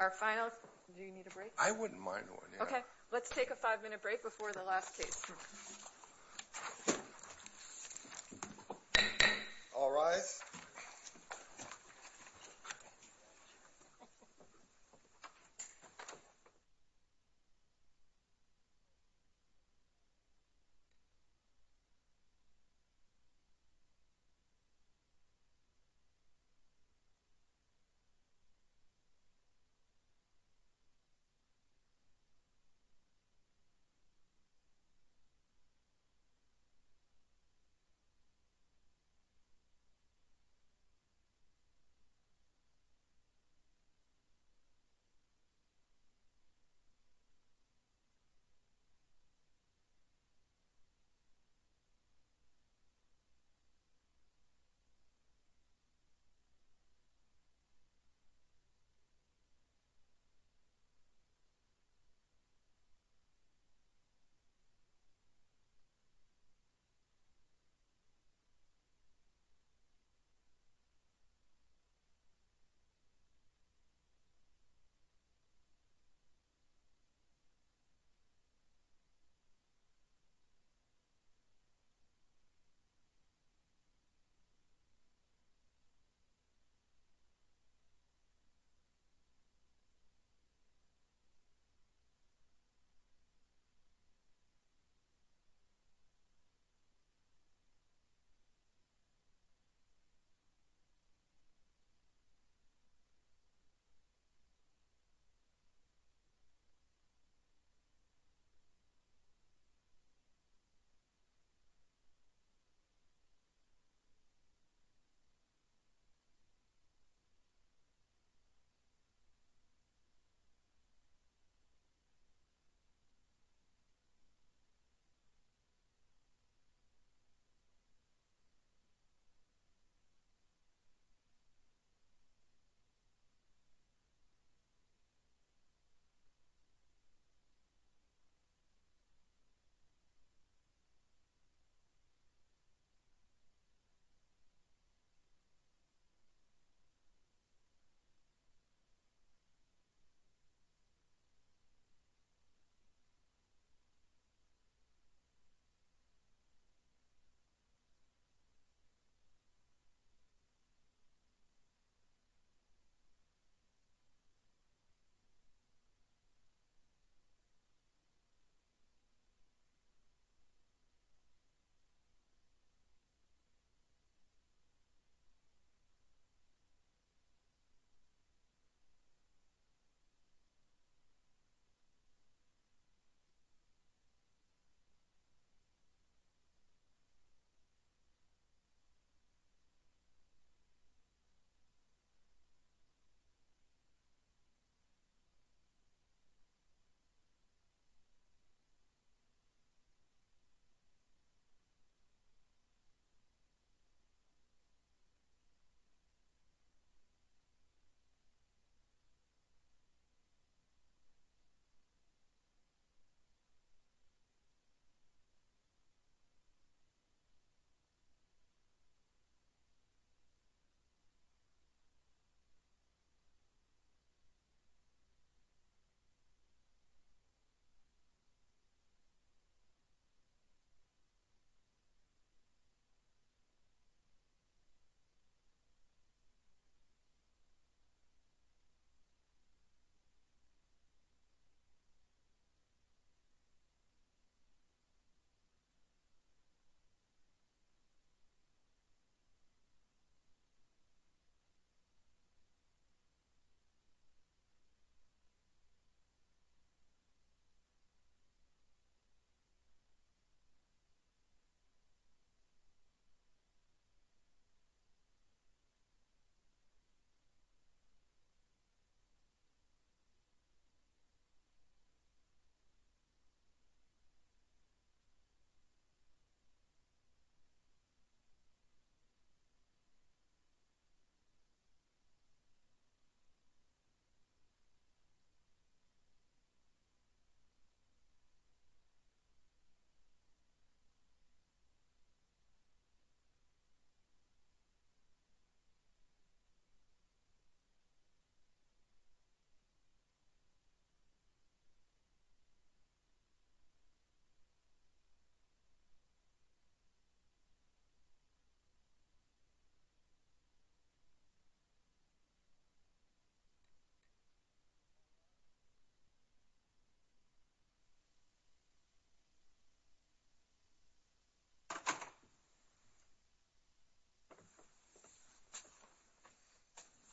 Our final, do you need a break? I wouldn't mind one, yeah. Okay, let's take a five minute break before the last case. All rise.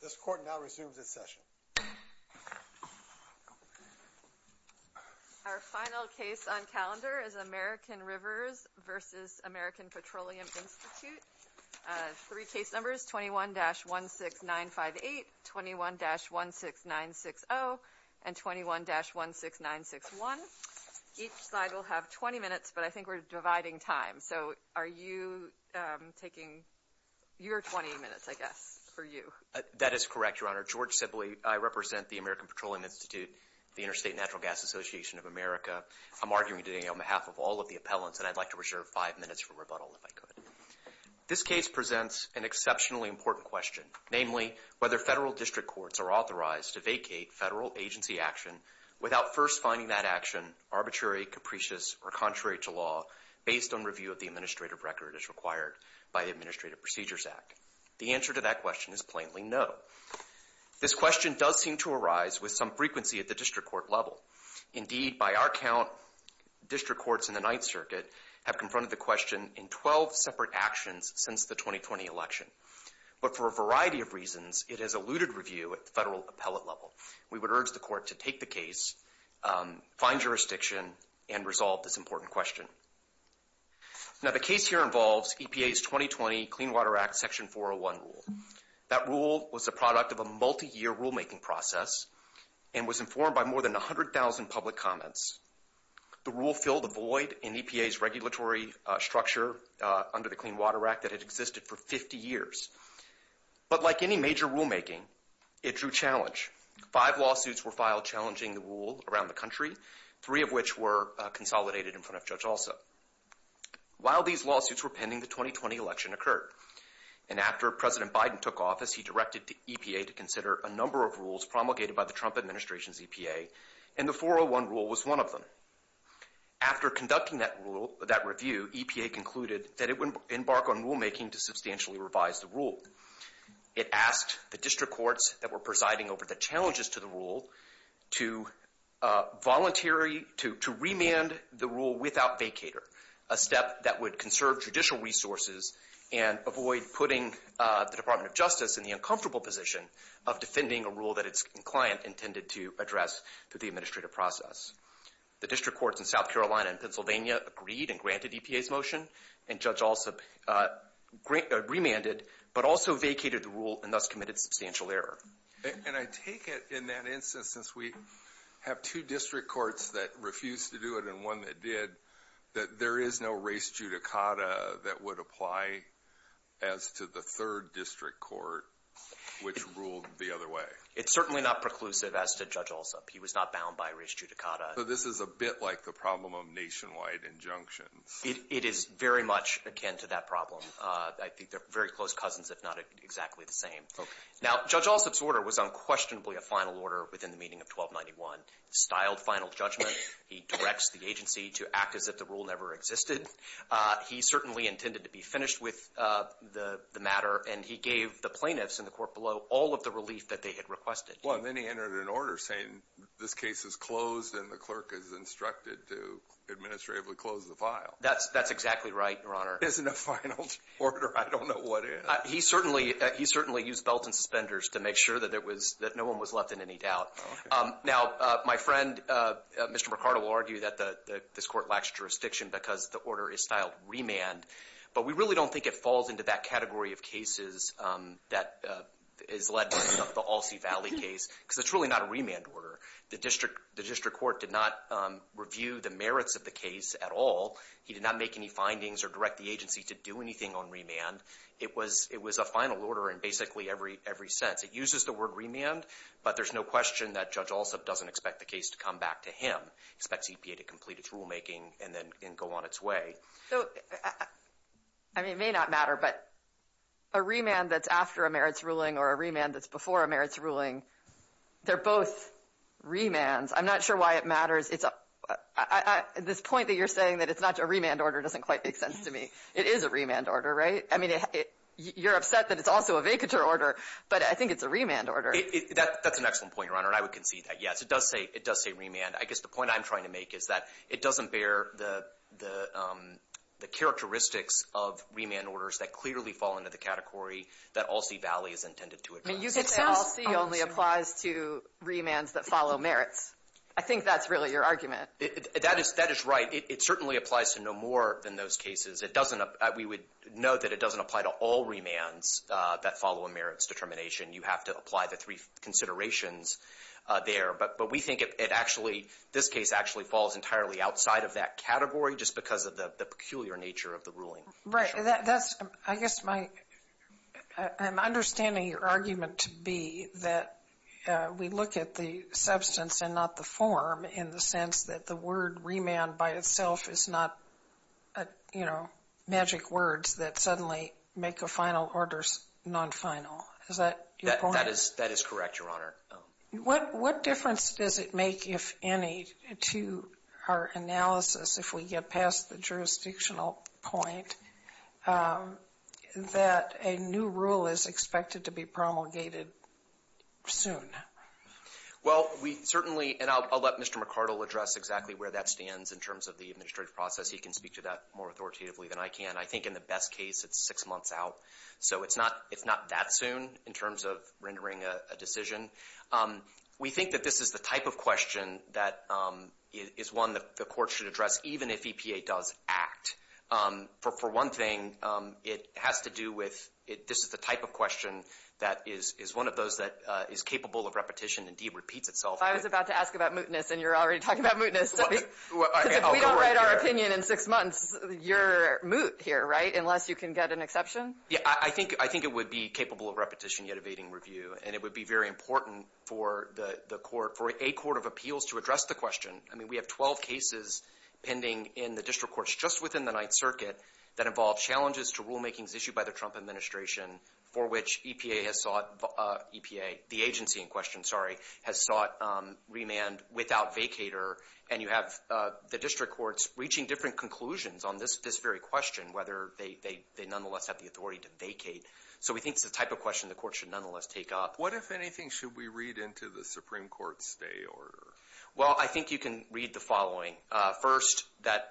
This court now resumes its session. Our final case on calendar is American Rivers v. American Petroleum Institute. Three case numbers 21-16958, 21-16960, and 21-16961. Each side will have 20 minutes, but I think we're dividing time. So are you taking your 20 minutes, I guess? That is correct, Your Honor. George Sibley, I represent the American Petroleum Institute, the Interstate Natural Gas Association of America. I'm arguing today on behalf of all of the appellants, and I'd like to reserve five minutes for rebuttal if I could. This case presents an exceptionally important question, namely whether federal district courts are authorized to vacate federal agency action without first finding that action arbitrary, capricious, or contrary to law based on review of the administrative record as required by the Administrative Procedures Act. The answer to that question is plainly no. This question does seem to arise with some frequency at the district court level. Indeed, by our count, district courts in the Ninth Circuit have confronted the question in 12 separate actions since the 2020 election. But for a variety of reasons, it has eluded review at the federal appellate level. We would urge the court to take the case, find jurisdiction, and resolve this important question. Now, the case here involves EPA's 2020 Clean Water Act Section 401 rule. That rule was the product of a multi-year rulemaking process and was informed by more than 100,000 public comments. The rule filled a void in EPA's regulatory structure under the Clean Water Act that had existed for 50 years. But like any major rulemaking, it drew challenge. Five lawsuits were filed challenging the rule around the country, three of which were consolidated in front of Judge Alsop. While these lawsuits were pending, the 2020 election occurred. And after President Biden took office, he directed the EPA to consider a number of rules promulgated by the Trump administration's EPA, and the 401 rule was one of them. After conducting that rule, that review, EPA concluded that it would embark on rulemaking to substantially revise the rule. It asked the district courts that were presiding over the challenges to the rule to voluntary, to remand the rule without vacator, a step that would conserve judicial resources and avoid putting the Department of Justice in the uncomfortable position of defending a rule that its client intended to address through the administrative process. The district courts in South Carolina and Pennsylvania agreed and granted EPA's motion, and Judge Alsop remanded, but also vacated the rule and thus committed substantial error. And I take it in that instance, since we have two district courts that refused to do it and one that did, that there is no res judicata that would apply as to the third district court, which ruled the other way. It's certainly not preclusive as to Judge Alsop. He was not bound by res judicata. So this is a bit like the problem of nationwide injunctions. It is very much akin to that problem. I think they're very close cousins, if not exactly the same. Now, Judge Alsop's order was unquestionably a final order within the meaning of 1291, styled final judgment. He directs the agency to act as if the rule never existed. He certainly intended to be finished with the matter, and he gave the plaintiffs in the court below all of the relief that they had requested. Well, and then he entered an order saying this case is closed and the clerk is instructed to administratively close the file. That's exactly right, Your Honor. It isn't a final order. I don't know what is. He certainly used belts and suspenders to make sure that no one was left in any doubt. Now, my friend, Mr. McCarty, will argue that this court lacks jurisdiction because the order is styled remand. But we really don't think it falls into that category of cases that is led by the Alsea Valley case, because it's really not a remand order. The district court did not review the merits of the case at all. He did not make any findings or direct the agency to do anything on remand. It was a final order in basically every sense. It uses the word remand, but there's no question that Judge Alsup doesn't expect the case to come back to him, expects EPA to complete its rulemaking and then go on its way. So, I mean, it may not matter, but a remand that's after a merits ruling or a remand that's before a merits ruling, they're both remands. I'm not sure why it matters. It's a — this point that you're saying that it's not a remand order doesn't quite make sense to me. It is a remand order, right? I mean, you're upset that it's also a vacatur order, but I think it's a remand order. That's an excellent point, Your Honor, and I would concede that, yes. It does say — it does say remand. I guess the point I'm trying to make is that it doesn't bear the characteristics of remand orders that clearly fall into the category that Alsea Valley is intended to address. I mean, you could say Alsea only applies to remands that follow merits. I think that's really your argument. That is — that is right. It certainly applies to no more than those cases. It doesn't — we would note that it doesn't apply to all remands that follow a merits determination. You have to apply the three considerations there. But we think it actually — this case actually falls entirely outside of that category just because of the peculiar nature of the ruling. Right. That's — I guess my — I'm understanding your argument to be that we look at the substance and not the form in the sense that the word remand by itself is not, you know, magic words that suddenly make the final orders non-final. Is that your point? That is — that is correct, Your Honor. What difference does it make, if any, to our analysis, if we get past the jurisdictional point, that a new rule is expected to be promulgated soon? Well, we certainly — and I'll let Mr. McArdle address exactly where that stands in terms of the administrative process. He can speak to that more authoritatively than I can. I think in the best case, it's six months out. So it's not — it's not that soon in terms of rendering a decision. We think that this is the type of question that is one that the Court should address even if EPA does act. For one thing, it has to do with — this is the type of question that is one of those that is capable of repetition. Indeed, it repeats itself. I was about to ask about mootness, and you're already talking about mootness. Because if we don't write our opinion in six months, you're moot here, right, unless you can get an exception? Yeah, I think — I think it would be capable of repetition, yet evading review. And it would be very important for the Court — for a court of appeals to address the question. I mean, we have 12 cases pending in the district courts just within the Ninth Circuit that involve challenges to rulemakings issued by the Trump administration for which EPA has sought — EPA, the agency in question, sorry, has sought remand without vacator. And you have the district courts reaching different conclusions on this very question, whether they nonetheless have the authority to vacate. So we think it's the type of question the Court should nonetheless take up. What, if anything, should we read into the Supreme Court's stay order? Well, I think you can read the following. First, that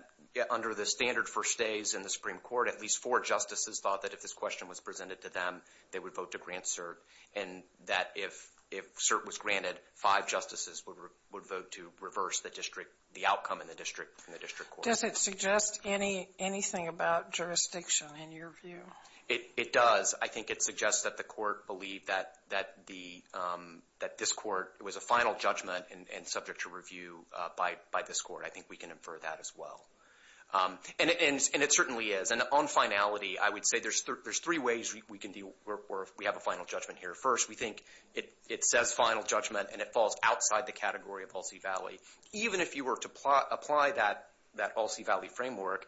under the standard for stays in the Supreme Court, at least four justices thought that if this question was presented to them, they would vote to grant cert, and that if cert was granted, five justices would vote to reverse the district — the outcome in the district court. Does it suggest anything about jurisdiction, in your view? It does. I think it suggests that the Court believed that this Court was a final judgment and subject to review by this Court. I think we can infer that as well. And it certainly is. On finality, I would say there's three ways we can deal — we have a final judgment here. First, we think it says final judgment and it falls outside the category of All-C Valley. Even if you were to apply that All-C Valley framework,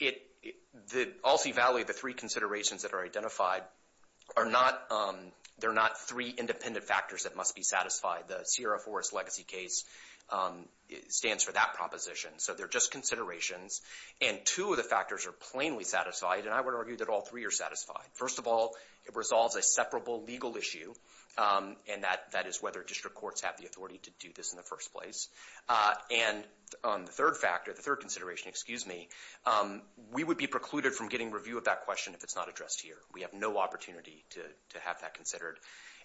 the All-C Valley, the three considerations that are identified, they're not three independent factors that must be satisfied. The Sierra Forest legacy case stands for that proposition. So they're just considerations. And two of the factors are plainly satisfied, and I would argue that all three are satisfied. First of all, it resolves a separable legal issue, and that is whether district courts have the authority to do this in the first place. And on the third factor, the third consideration, excuse me, we would be precluded from getting review of that question if it's not addressed here. We have no opportunity to have that considered.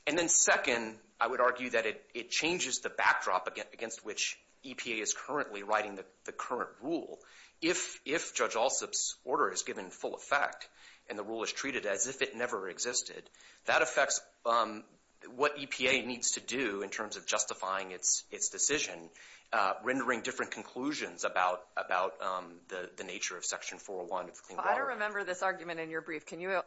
And then second, I would argue that it changes the backdrop against which EPA is currently writing the current rule. If Judge Alsup's order is given full effect and the rule is treated as if it never existed, that affects what EPA needs to do in terms of justifying its decision, rendering different conclusions about the nature of Section 401 of the Clean Water Act. I don't remember this argument in your brief. Can you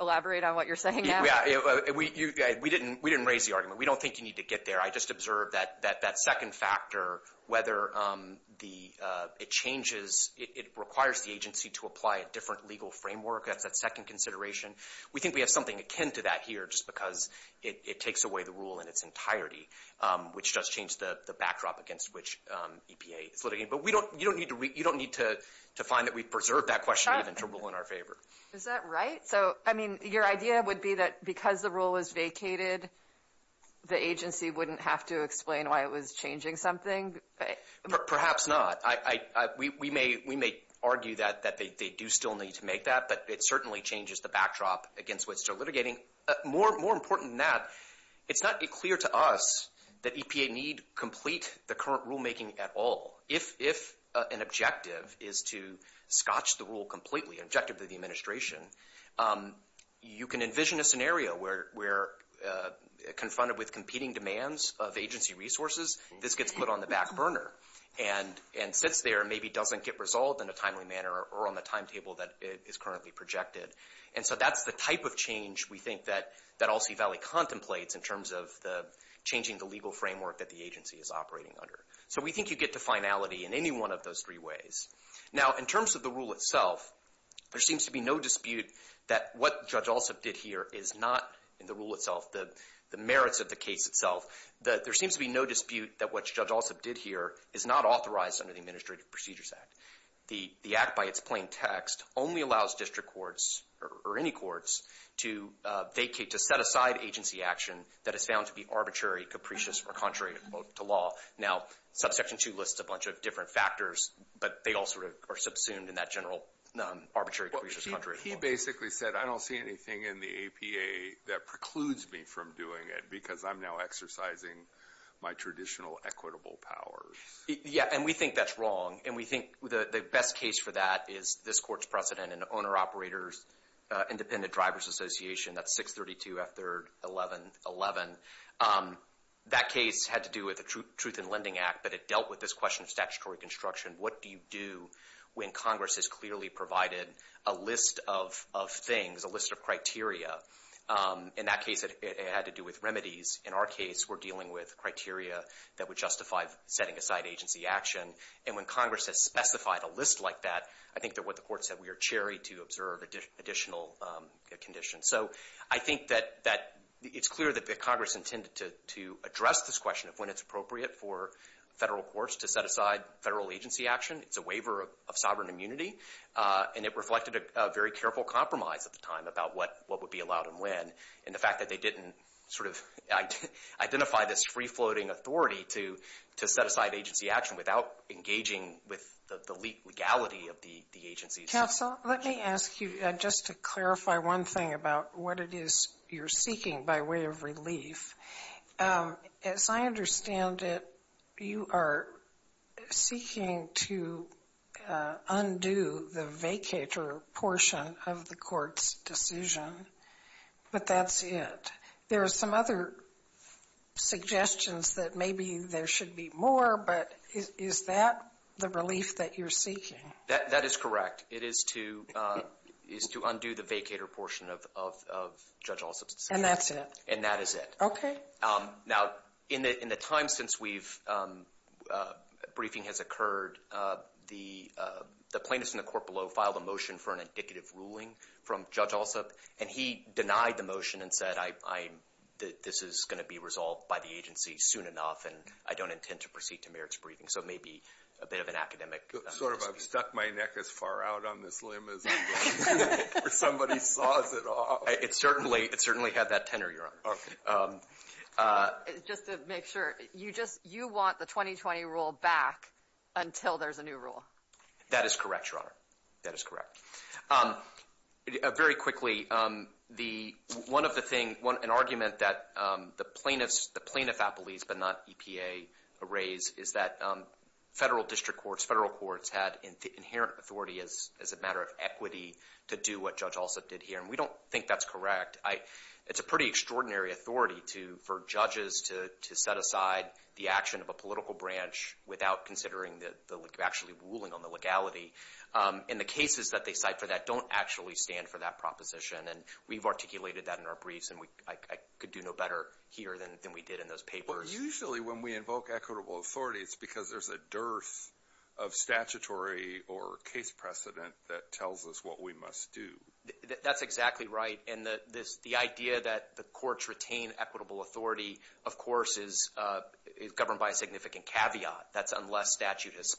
elaborate on what you're saying now? Yeah, we didn't raise the argument. We don't think you need to get there. I just observed that second factor, whether it changes, it requires the agency to apply a different legal framework. That's that second consideration. We think we have something akin to that here just because it takes away the rule in its entirety, which does change the backdrop against which EPA is litigating. But you don't need to find that we've preserved that question even to rule in our favor. Is that right? Your idea would be that because the rule was vacated, the agency wouldn't have to explain why it was changing something? Perhaps not. We may argue that they do still need to make that, but it certainly changes the backdrop against which they're litigating. More important than that, it's not clear to us that EPA need complete the current rule making at all. If an objective is to scotch the rule completely, an objective of the administration, you can envision a scenario where confronted with competing demands of agency resources, this gets put on the back burner and sits there and maybe doesn't get resolved in a timely manner or on the timetable that is currently projected. And so that's the type of change we think that All-C Valley contemplates in terms of changing the legal framework that the agency is operating under. So we think you get to finality in any one of those three ways. Now, in terms of the rule itself, there seems to be no dispute that what Judge Alsop did here is not, in the rule itself, the merits of the case itself. There seems to be no dispute that what Judge Alsop did here is not authorized under the Administrative Procedures Act. The act by its plain text only allows district courts or any courts to set aside agency action that is found to be arbitrary, capricious, or contrary to law. Now, Subsection 2 lists a bunch of different factors, but they all sort of are subsumed in that general, arbitrary, capricious, contrary. He basically said, I don't see anything in the APA that precludes me from doing it because I'm now exercising my traditional equitable powers. Yeah, and we think that's wrong. And we think the best case for that is this court's precedent in the Owner-Operators Independent Drivers Association. That's 632 F3rd 1111. That case had to do with the Truth in Lending Act, but it dealt with this question of statutory construction. What do you do when Congress has clearly provided a list of things, a list of criteria? In that case, it had to do with remedies. In our case, we're dealing with criteria that would justify setting aside agency action. And when Congress has specified a list like that, I think that what the court said, we are charried to observe additional conditions. So I think that it's clear that Congress intended to address this question of when it's appropriate for federal courts to set aside federal agency action. It's a waiver of sovereign immunity. And it reflected a very careful compromise at the time about what would be allowed and when. And the fact that they didn't sort of identify this free-floating authority to set aside agency action without engaging with the legality of the agency. Counsel, let me ask you just to clarify one thing about what it is you're seeking by way of relief. As I understand it, you are seeking to undo the vacator portion of the court's decision, but that's it. There are some other suggestions that maybe there should be more, but is that the relief that you're seeking? That is correct. It is to undo the vacator portion of Judge Alsop's decision. And that's it. And that is it. OK. Now, in the time since we've, briefing has occurred, the plaintiff in the court below filed a motion for an indicative ruling from Judge Alsop. And he denied the motion and said, this is going to be resolved by the agency soon enough, and I don't intend to proceed to merits briefing. So it may be a bit of an academic dispute. Sort of. I've stuck my neck as far out on this limb as somebody saws it off. It certainly had that tenor, Your Honor. Just to make sure, you want the 2020 rule back until there's a new rule? That is correct, Your Honor. That is correct. Very quickly, an argument that the plaintiff appellees, but not EPA, raise is that federal district courts, federal courts had inherent authority as a matter of equity to do what Judge Alsop did here. And we don't think that's correct. It's a pretty extraordinary authority for judges to set aside the action of a political branch without considering actually ruling on the legality. And the cases that they cite for that don't actually stand for that proposition. And we've articulated that in our briefs. And I could do no better here than we did in those papers. Usually, when we invoke equitable authority, it's because there's a dearth of statutory or case precedent that tells us what we must do. That's exactly right. And the idea that the courts retain equitable authority, of course, is governed by a significant caveat. That's unless a statute has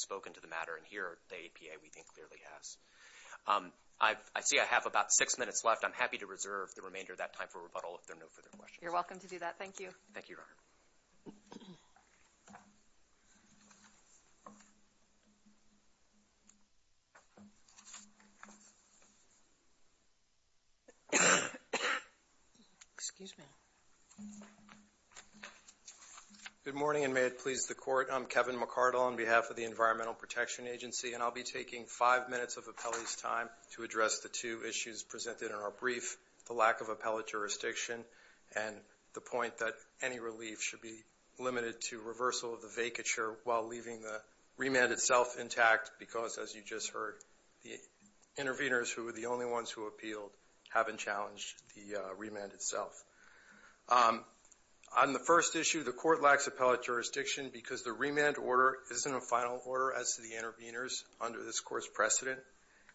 spoken to the matter. And here, the EPA, we think, clearly has. I see I have about six minutes left. I'm happy to reserve the remainder of that time for rebuttal if there are no further questions. You're welcome to do that. Thank you. Thank you, Your Honor. Excuse me. Good morning, and may it please the Court. I'm Kevin McCardle on behalf of the Environmental Protection Agency. And I'll be taking five minutes of appellee's time to address the two issues presented in our brief. The lack of appellate jurisdiction and the point that any relief should be limited to reversal of the vacature while leaving the remand itself intact because, as you just heard, the intervenors who were the only ones who appealed haven't challenged the remand itself. On the first issue, the Court lacks appellate jurisdiction because the remand order isn't a final order as to the intervenors under this Court's precedent.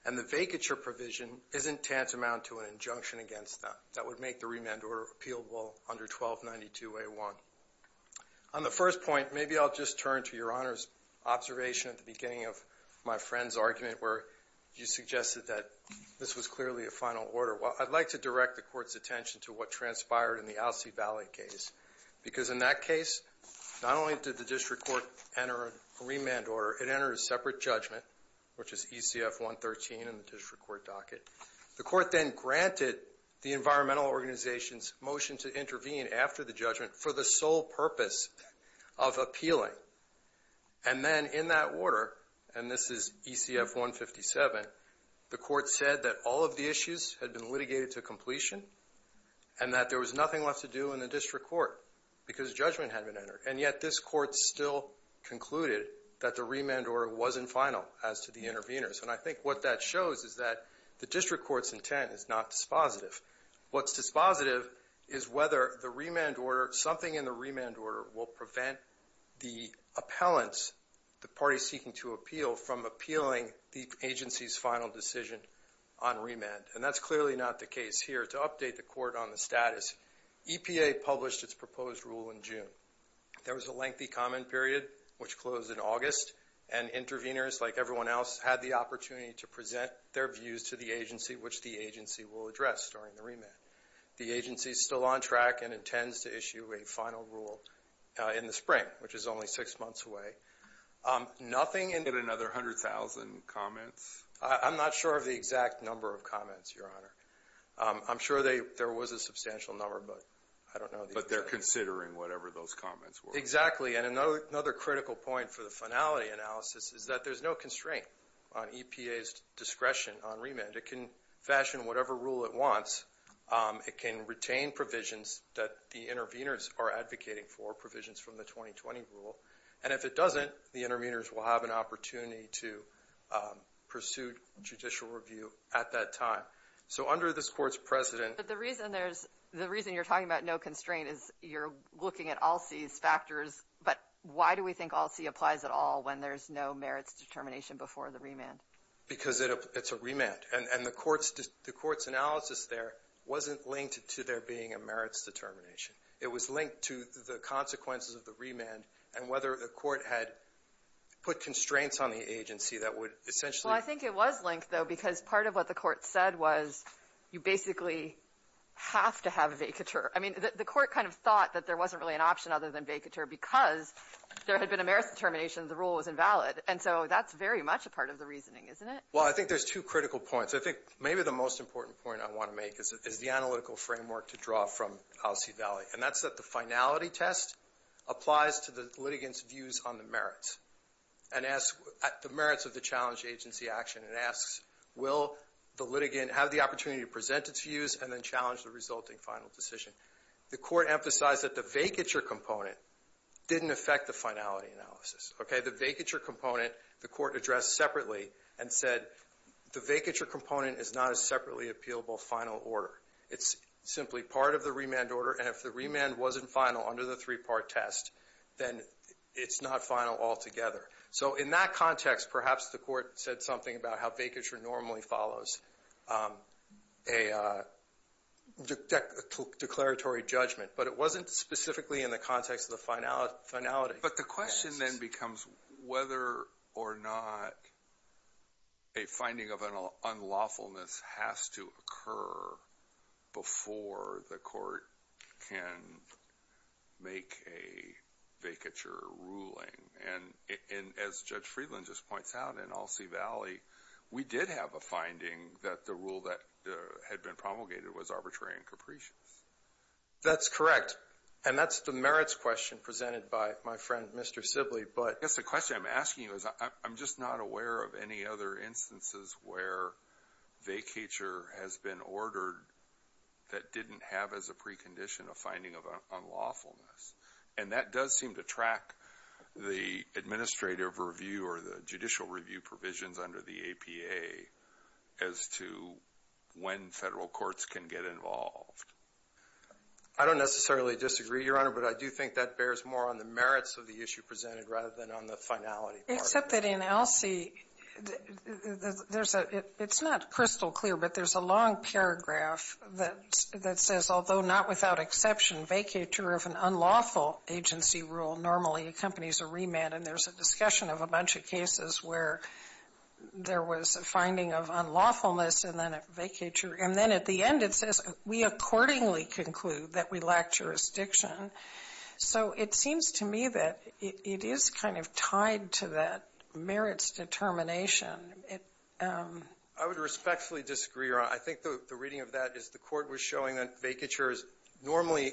And the vacature provision isn't tantamount to an injunction against them that would make the remand order appealable under 1292A1. On the first point, maybe I'll just turn to Your Honor's observation at the beginning of my friend's argument where you suggested that this was clearly a final order. Well, I'd like to direct the Court's attention to what transpired in the Alcee Valley case because, in that case, not only did the district court enter a remand order, it was ECF-113 in the district court docket. The Court then granted the environmental organization's motion to intervene after the judgment for the sole purpose of appealing. And then in that order, and this is ECF-157, the Court said that all of the issues had been litigated to completion and that there was nothing left to do in the district court because judgment had been entered. And yet this Court still concluded that the remand order wasn't final as to the intervenors. And I think what that shows is that the district court's intent is not dispositive. What's dispositive is whether the remand order, something in the remand order will prevent the appellants, the parties seeking to appeal, from appealing the agency's final decision on remand. And that's clearly not the case here. To update the Court on the status, EPA published its proposed rule in June. There was a lengthy comment period, which closed in August, and intervenors, like everyone else, had the opportunity to present their views to the agency, which the agency will address during the remand. The agency's still on track and intends to issue a final rule in the spring, which is only six months away. Nothing in- Did it get another 100,000 comments? I'm not sure of the exact number of comments, Your Honor. I'm sure there was a substantial number, but I don't know- But they're considering whatever those comments were. Exactly. And another critical point for the finality analysis is that there's no constraint on EPA's discretion on remand. It can fashion whatever rule it wants. It can retain provisions that the intervenors are advocating for, provisions from the 2020 rule. And if it doesn't, the intervenors will have an opportunity to pursue judicial review at that time. So under this Court's precedent- But the reason there's — the reason you're talking about no constraint is you're looking at all C's factors, but why do we think all C applies at all when there's no merits determination before the remand? Because it's a remand. And the Court's analysis there wasn't linked to there being a merits determination. It was linked to the consequences of the remand and whether the Court had put constraints on the agency that would essentially- Well, I think it was linked, though, because part of what the Court said was you basically have to have a vacatur. I mean, the Court kind of thought that there wasn't really an option other than vacatur because there had been a merits determination, the rule was invalid. And so that's very much a part of the reasoning, isn't it? Well, I think there's two critical points. I think maybe the most important point I want to make is the analytical framework to draw from all C value. And that's that the finality test applies to the litigants' views on the merits. And the merits of the challenge agency action, it asks, will the litigant have the opportunity to present its views and then challenge the resulting final decision? The Court emphasized that the vacatur component didn't affect the finality analysis, okay? The vacatur component, the Court addressed separately and said, the vacatur component is not a separately appealable final order. It's simply part of the remand order. And if the remand wasn't final under the three-part test, then it's not final altogether. So in that context, perhaps the Court said something about how vacatur normally follows a declaratory judgment. But it wasn't specifically in the context of the finality. But the question then becomes whether or not a finding of an unlawfulness has to occur before the Court can make a vacatur ruling. And as Judge Friedland just points out, in all C value, we did have a finding that the rule that had been promulgated was arbitrary and capricious. That's correct. And that's the merits question presented by my friend, Mr. Sibley. But I guess the question I'm asking you is, I'm just not aware of any other instances where vacatur has been ordered that didn't have as a precondition a finding of unlawfulness. And that does seem to track the administrative review or the judicial review provisions under the APA as to when federal courts can get involved. I don't necessarily disagree, Your Honor, but I do think that bears more on the merits of the issue presented rather than on the finality part. Except that in all C, it's not crystal clear, but there's a long paragraph that says, although not without exception, vacatur of an unlawful agency rule normally accompanies a remand. And there's a discussion of a bunch of cases where there was a finding of unlawfulness and then a vacatur. And then at the end, it says, we accordingly conclude that we lack jurisdiction. So it seems to me that it is kind of tied to that merits determination. I would respectfully disagree, Your Honor. I think the reading of that is the court was showing that vacatur normally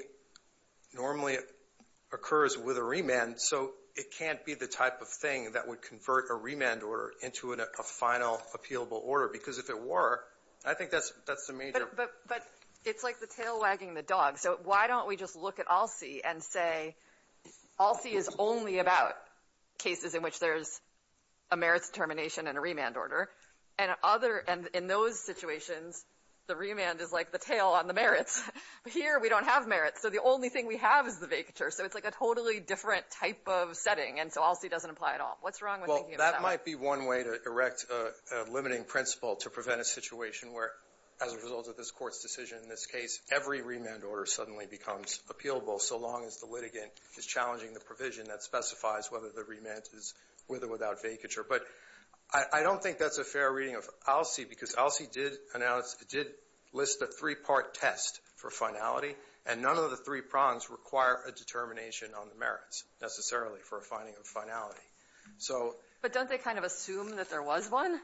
occurs with a remand. So it can't be the type of thing that would convert a remand order into a final, appealable order. Because if it were, I think that's the major... But it's like the tail wagging the dog. Why don't we just look at all C and say all C is only about cases in which there's a merits determination and a remand order. And in those situations, the remand is like the tail on the merits. Here, we don't have merits. So the only thing we have is the vacatur. So it's like a totally different type of setting. And so all C doesn't apply at all. What's wrong with thinking of that? Well, that might be one way to erect a limiting principle to prevent a situation where, as a result of this court's decision in this case, every remand order suddenly becomes appealable, so long as the litigant is challenging the provision that specifies whether the remand is with or without vacatur. But I don't think that's a fair reading of all C, because all C did list a three-part test for finality. And none of the three prongs require a determination on the merits, necessarily, for a finding of finality. But don't they kind of assume that there was one?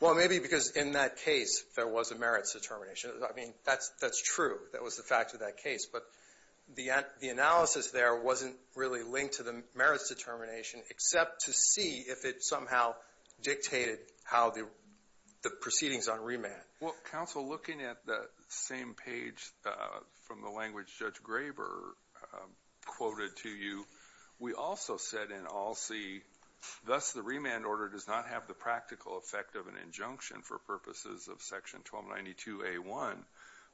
Well, maybe because in that case, there was a merits determination. I mean, that's true. That was the fact of that case. But the analysis there wasn't really linked to the merits determination, except to see if it somehow dictated how the proceedings on remand. Well, counsel, looking at the same page from the language Judge Graber quoted to you, we also said in all C, thus the remand order does not have the practical effect of an injunction for purposes of section 1292A1.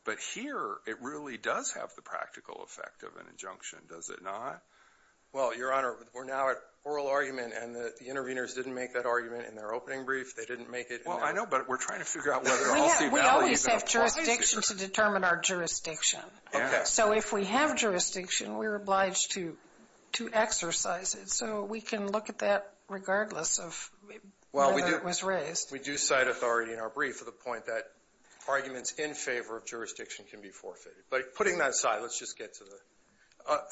But here, it really does have the practical effect of an injunction, does it not? Well, Your Honor, we're now at oral argument, and the interveners didn't make that argument in their opening brief. They didn't make it in their... Well, I know. But we're trying to figure out whether all C values that approach. We always have jurisdiction to determine our jurisdiction. Yes. If we have jurisdiction, we're obliged to exercise it. So we can look at that regardless of whether it was raised. Well, we do cite authority in our brief to the point that arguments in favor of jurisdiction can be forfeited. But putting that aside, let's just get to the...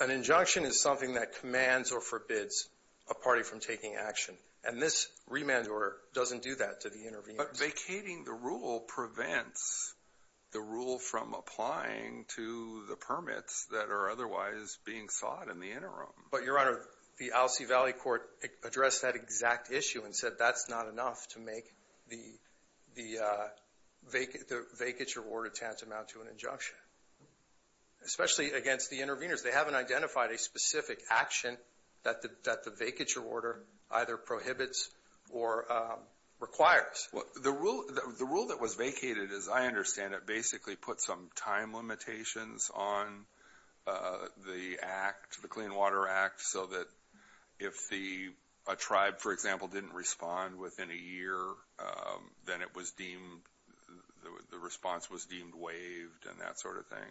An injunction is something that commands or forbids a party from taking action. And this remand order doesn't do that to the interveners. Vacating the rule prevents the rule from applying to the permits that are otherwise being sought in the interim. But, Your Honor, the Alcee Valley Court addressed that exact issue and said that's not enough to make the vacature order tantamount to an injunction, especially against the interveners. They haven't identified a specific action that the vacature order either prohibits or requires. The rule that was vacated, as I understand it, basically put some time limitations on the act, the Clean Water Act, so that if a tribe, for example, didn't respond within a year, then the response was deemed waived and that sort of thing.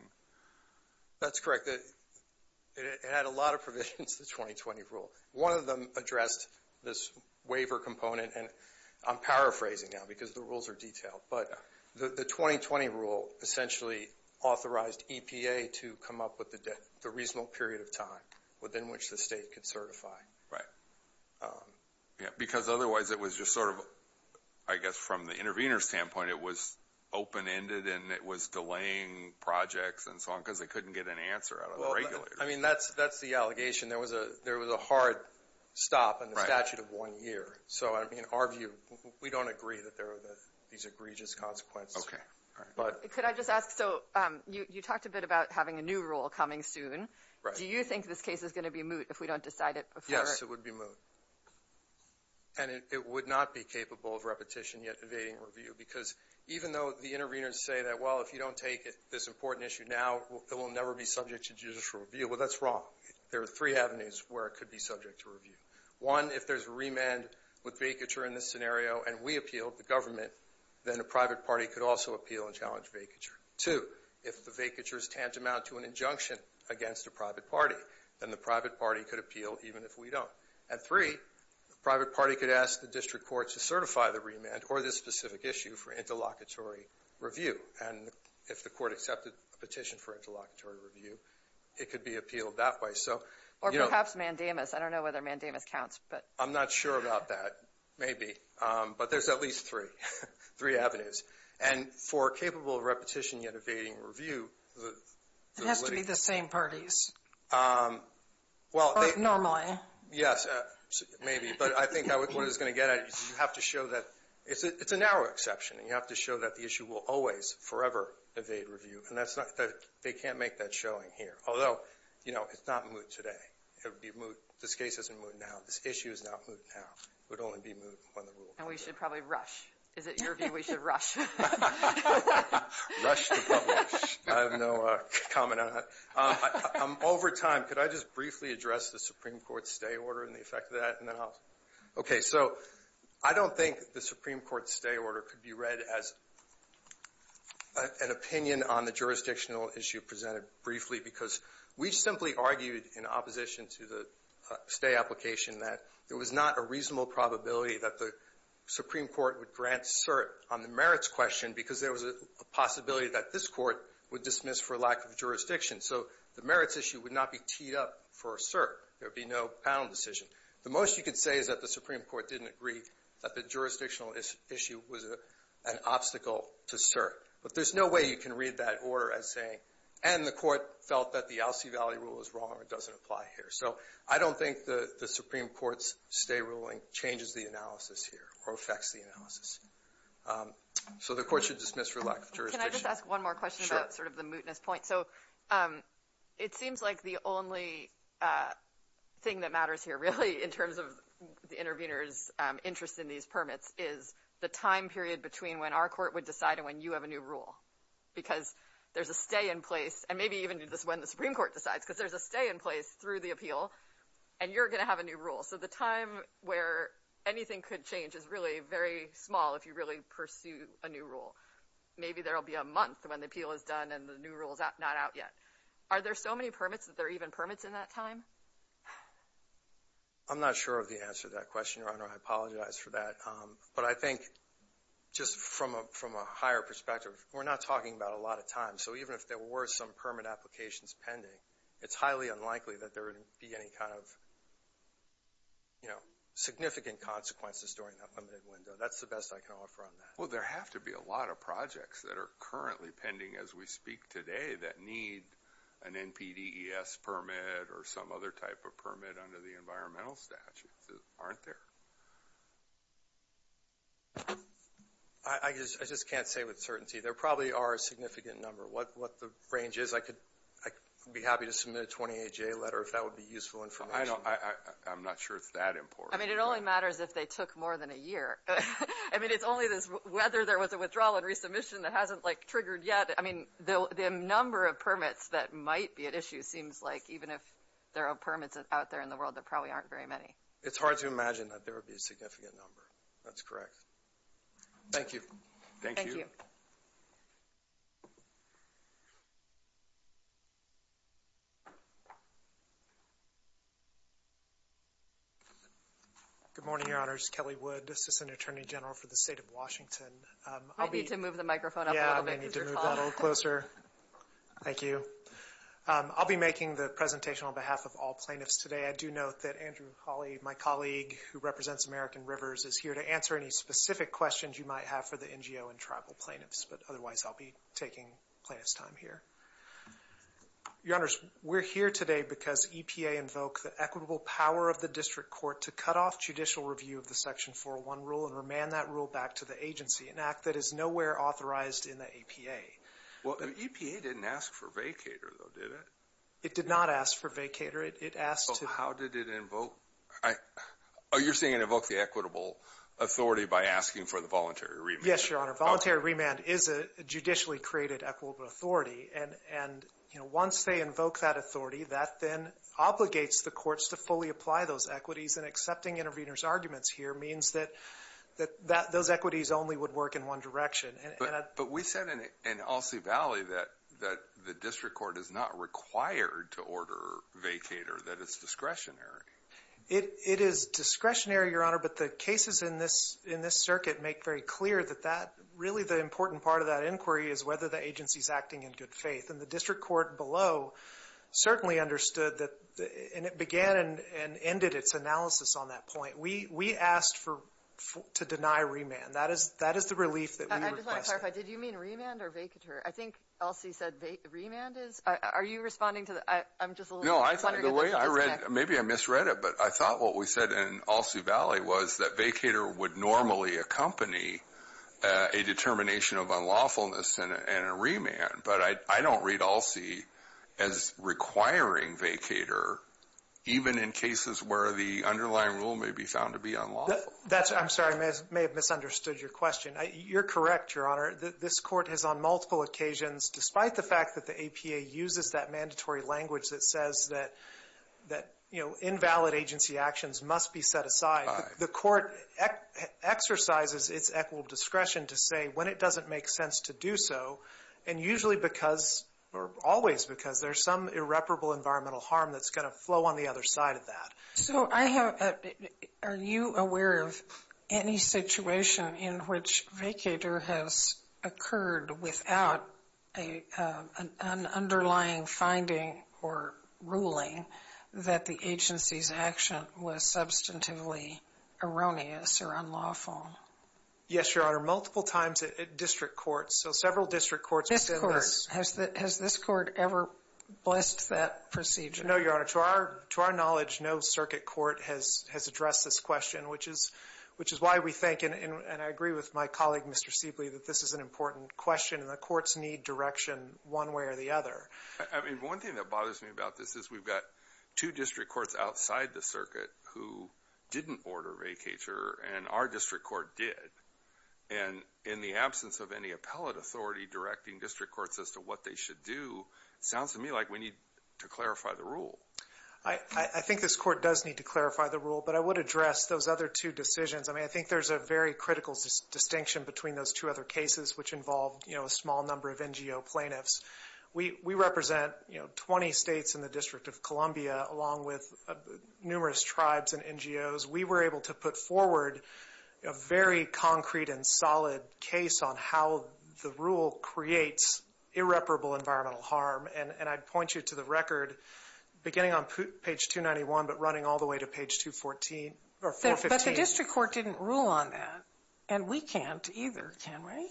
That's correct. It had a lot of provisions to the 2020 rule. One of them addressed this waiver component. And I'm paraphrasing now because the rules are detailed. But the 2020 rule essentially authorized EPA to come up with a reasonable period of time within which the state could certify. Right. Because otherwise it was just sort of, I guess, from the intervener's standpoint, it was open-ended and it was delaying projects and so on because they couldn't get an answer out of the regulators. I mean, that's the allegation. There was a hard stop in the statute of one year. So, I mean, our view, we don't agree that there are these egregious consequences. OK. Could I just ask, so you talked a bit about having a new rule coming soon. Do you think this case is going to be moot if we don't decide it before? Yes, it would be moot. And it would not be capable of repetition yet evading review because even though the interveners say that, well, if you don't take this important issue now, it will never be subject to judicial review. Well, that's wrong. There are three avenues where it could be subject to review. One, if there's remand with vacature in this scenario and we appeal, the government, then a private party could also appeal and challenge vacature. Two, if the vacature is tantamount to an injunction against a private party, then the private party could appeal even if we don't. And three, the private party could ask the district court to certify the remand or this specific issue for interlocutory review. And if the court accepted a petition for interlocutory review, it could be appealed that way. Or perhaps mandamus. I don't know whether mandamus counts. I'm not sure about that. Maybe. But there's at least three avenues. And for capable of repetition yet evading review. It has to be the same parties. Normally. Yes, maybe. But I think what it's going to get at is you have to show that it's a narrow exception and you have to show that the issue will always forever evade review. And they can't make that showing here. Although, you know, it's not moot today. It would be moot. This case isn't moot now. This issue is not moot now. It would only be moot when the rule. And we should probably rush. Is it your view we should rush? Rush to publish. I have no comment on that. I'm over time. Could I just briefly address the Supreme Court's stay order and the effect of that? Okay. So I don't think the Supreme Court stay order could be read as an opinion on the jurisdictional issue presented briefly because we simply argued in opposition to the stay application that there was not a reasonable probability that the Supreme Court would grant cert on the merits question because there was a possibility that this court would dismiss for lack of jurisdiction. So the merits issue would not be teed up for cert. There would be no panel decision. The most you could say is that the Supreme Court didn't agree that the jurisdictional issue was an obstacle to cert. But there's no way you can read that order as saying, and the court felt that the Alsea Valley rule is wrong or doesn't apply here. So I don't think the Supreme Court's stay ruling changes the analysis here or affects the analysis. So the court should dismiss for lack of jurisdiction. Can I just ask one more question about sort of the mootness point? So it seems like the only thing that matters here really in terms of the intervener's interest in these permits is the time period between when our court would decide and when you have a new rule because there's a stay in place. And maybe even when the Supreme Court decides because there's a stay in place through the appeal and you're going to have a new rule. So the time where anything could change is really very small if you really pursue a new rule. Maybe there will be a month when the appeal is done and the new rule is not out yet. Are there so many permits that there are even permits in that time? I'm not sure of the answer to that question, Your Honor. I apologize for that. But I think just from a higher perspective, we're not talking about a lot of time. So even if there were some permit applications pending, it's highly unlikely that there would be any kind of significant consequences during that limited window. That's the best I can offer on that. Well, there have to be a lot of projects that are currently pending as we speak today that need an NPDES permit or some other type of permit under the environmental statutes that aren't there. I just can't say with certainty. There probably are a significant number. What the range is, I could be happy to submit a 28-J letter if that would be useful information. I know. I'm not sure it's that important. I mean, it only matters if they took more than a year. I mean, it's only this whether there was a withdrawal and resubmission that hasn't like triggered yet. I mean, the number of permits that might be at issue seems like even if there are permits out there in the world, there probably aren't very many. It's hard to imagine that there would be a significant number. That's correct. Thank you. Thank you. Good morning, Your Honors. Kelly Wood, Assistant Attorney General for the State of Washington. I'll be- You need to move the microphone up a little bit because you're taller. Yeah, I may need to move that a little closer. Thank you. I'll be making the presentation on behalf of all plaintiffs today. I do note that Andrew Hawley, my colleague who represents American Rivers, is here to answer any specific questions you might have for the NGO and tribal plaintiffs. But otherwise, I'll be taking plaintiff's time here. Your Honors, we're here today because EPA invoked the equitable power of the District Court to cut off judicial review of the Section 401 rule and remand that rule back to the agency, an act that is nowhere authorized in the EPA. Well, the EPA didn't ask for vacator though, did it? It did not ask for vacator. It asked to- How did it invoke- Oh, you're saying it invoked the equitable authority by asking for the voluntary remand. Yes, Your Honor. Voluntary remand is a judicially created equitable authority. And once they invoke that authority, that then obligates the courts to fully apply those equities. And accepting intervener's arguments here means that those equities only would work in one direction. But we said in Alsea Valley that the District Court is not required to order vacator, that it's discretionary. It is discretionary, Your Honor. But the cases in this circuit make very clear that really the important part of that inquiry is whether the agency is acting in good faith. And the District Court below certainly understood that, and it began and ended its analysis on that point. We asked to deny remand. That is the relief that we requested. I just want to clarify. Did you mean remand or vacator? Are you responding to the- I'm just a little- The way I read- maybe I misread it. But I thought what we said in Alsea Valley was that vacator would normally accompany a determination of unlawfulness and a remand. But I don't read Alsea as requiring vacator, even in cases where the underlying rule may be found to be unlawful. That's- I'm sorry. I may have misunderstood your question. You're correct, Your Honor. that- that, you know, invalid agency actions must be set aside. The court exercises its equitable discretion to say when it doesn't make sense to do so, and usually because- or always because there's some irreparable environmental harm that's going to flow on the other side of that. So I have- are you aware of any situation in which vacator has occurred without a- an or ruling that the agency's action was substantively erroneous or unlawful? Yes, Your Honor. Multiple times at district courts. So several district courts- This court- has the- has this court ever blessed that procedure? No, Your Honor. To our- to our knowledge, no circuit court has- has addressed this question, which is- which is why we think, and I agree with my colleague, Mr. Seible, that this is an important question, and the courts need direction one way or the other. I mean, one thing that bothers me about this is we've got two district courts outside the circuit who didn't order vacator, and our district court did, and in the absence of any appellate authority directing district courts as to what they should do, it sounds to me like we need to clarify the rule. I- I think this court does need to clarify the rule, but I would address those other two decisions. I mean, I think there's a very critical distinction between those two other cases, which involve, you know, a small number of NGO plaintiffs. We- we represent, you know, 20 states in the District of Columbia, along with numerous tribes and NGOs. We were able to put forward a very concrete and solid case on how the rule creates irreparable environmental harm, and- and I'd point you to the record, beginning on page 291, but running all the way to page 214- or 415. But the district court didn't rule on that, and we can't either, can we?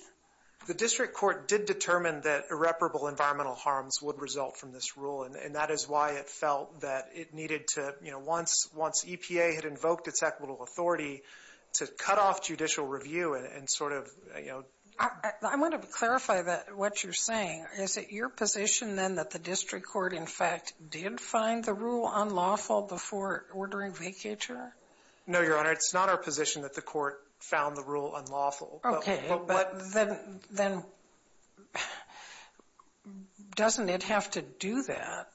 The district court did determine that irreparable environmental harms would result from this rule, and- and that is why it felt that it needed to, you know, once- once EPA had invoked its equitable authority, to cut off judicial review and- and sort of, you know- I- I want to clarify that- what you're saying. Is it your position, then, that the district court, in fact, did find the rule unlawful before ordering vacator? No, Your Honor, it's not our position that the court found the rule unlawful. Okay. But what- Then- then- doesn't it have to do that?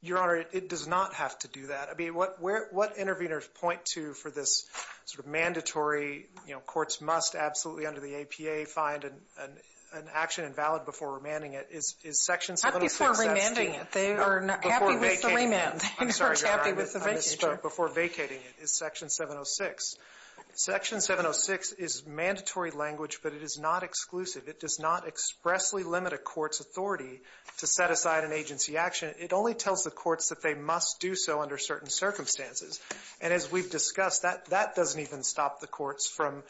Your Honor, it does not have to do that. I mean, what- where- what interveners point to for this sort of mandatory, you know, courts must absolutely, under the APA, find an- an- an action invalid before remanding it is- is Section 706- Not before remanding it. They are not happy with the remand. They are not happy with the vacator. I'm sorry, Your Honor, I misspoke. Before vacating it is Section 706. Section 706 is mandatory language, but it is not exclusive. It does not expressly limit a court's authority to set aside an agency action. It only tells the courts that they must do so under certain circumstances. And as we've discussed, that- that doesn't even stop the courts from,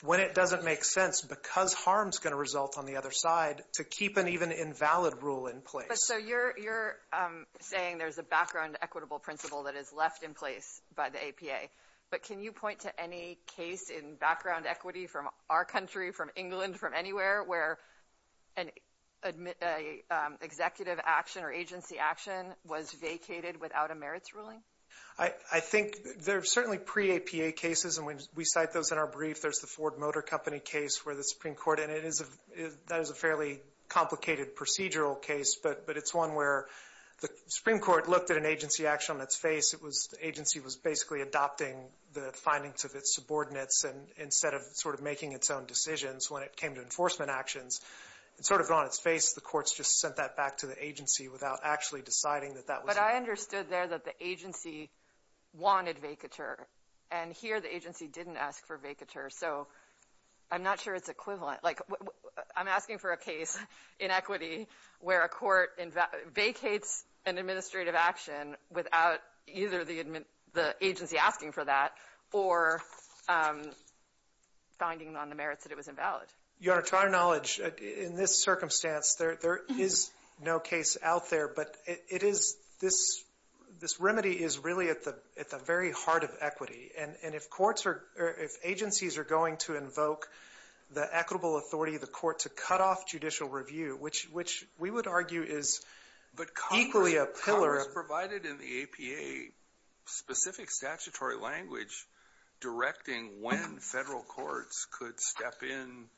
when it doesn't make sense because harm's going to result on the other side, to keep an even invalid rule in place. But so you're- you're saying there's a background equitable principle that is left in place by the APA. But can you point to any case in background equity from our country, from England, from anywhere, where an- an executive action or agency action was vacated without a merits ruling? I- I think there are certainly pre-APA cases, and when we cite those in our brief, there's the Ford Motor Company case where the Supreme Court, and it is a- that is a fairly complicated procedural case, but- but it's one where the Supreme Court looked at an agency action on its face. It was- the agency was basically adopting the findings of its subordinates, and instead of sort of making its own decisions when it came to enforcement actions, it sort of got on its face. The courts just sent that back to the agency without actually deciding that that was- But I understood there that the agency wanted vacature, and here the agency didn't ask for vacature. So I'm not sure it's equivalent. Like, I'm asking for a case in equity where a court vacates an administrative action without either the admin- the agency asking for that or finding on the merits that it was invalid. Your Honor, to our knowledge, in this circumstance, there- there is no case out there, but it- it is this- this remedy is really at the- at the very heart of equity, and- and if courts are- if agencies are going to invoke the equitable authority of the court to cut off judicial review, which- which we would argue is equally a pillar of- in the APA- specific statutory language directing when federal courts could step in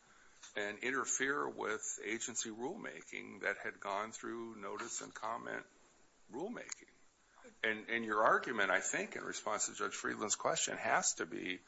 and interfere with agency rulemaking that had gone through notice and comment rulemaking. And- and your argument, I think, in response to Judge Friedland's question has to be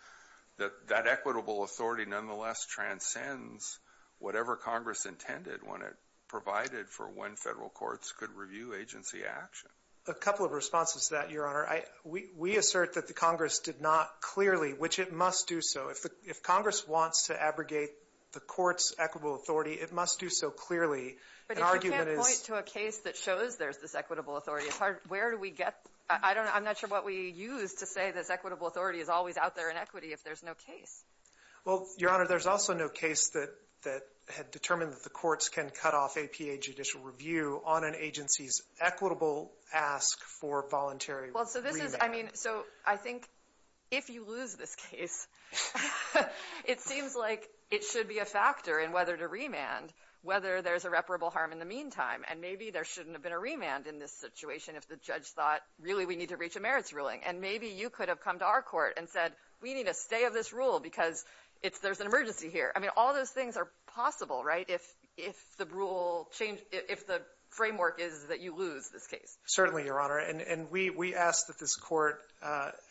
that that equitable authority nonetheless transcends whatever Congress intended when it provided for when federal courts could review agency action. A couple of responses to that, Your Honor. I- we- we assert that the Congress did not clearly, which it must do so. If the- if Congress wants to abrogate the court's equitable authority, it must do so clearly. An argument is- But if you can't point to a case that shows there's this equitable authority, it's hard- where do we get- I don't know. I'm not sure what we use to say this equitable authority is always out there in equity if there's no case. Well, Your Honor, there's also no case that- that had determined that the courts can cut off APA judicial review on an agency's equitable ask for voluntary remand. Well, so this is- I mean, so I think if you lose this case, it seems like it should be a factor in whether to remand whether there's irreparable harm in the meantime. And maybe there shouldn't have been a remand in this situation if the judge thought, really, we need to reach a merits ruling. And maybe you could have come to our court and said, we need a stay of this rule because it's- there's an emergency here. I mean, all those things are possible, right? If the rule changed- if the framework is that you lose this case. Certainly, Your Honor. And we ask that this court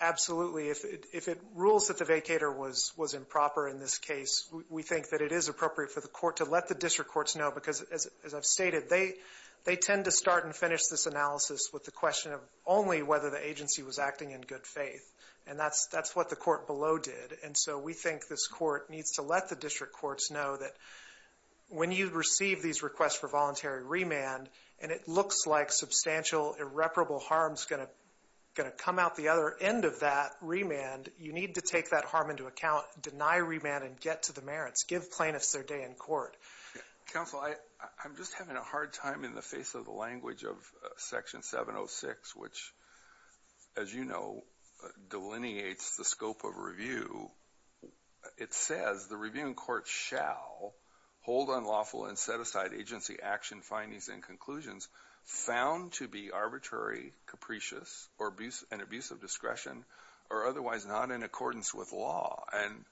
absolutely- if it rules that the vacator was improper in this case, we think that it is appropriate for the court to let the district courts know. Because as I've stated, they tend to start and finish this analysis with the question of only whether the agency was acting in good faith. And that's what the court below did. And so we think this court needs to let the district courts know that when you receive these requests for voluntary remand, and it looks like substantial irreparable harm's going to- going to come out the other end of that remand, you need to take that harm into account, deny remand, and get to the merits. Give plaintiffs their day in court. Yeah. Counsel, I- I'm just having a hard time in the face of the language of Section 706, which, as you know, delineates the scope of review. It says, the reviewing court shall hold unlawful and set aside agency action findings and conclusions found to be arbitrary, capricious, or abuse- an abuse of discretion, or otherwise not in accordance with law. And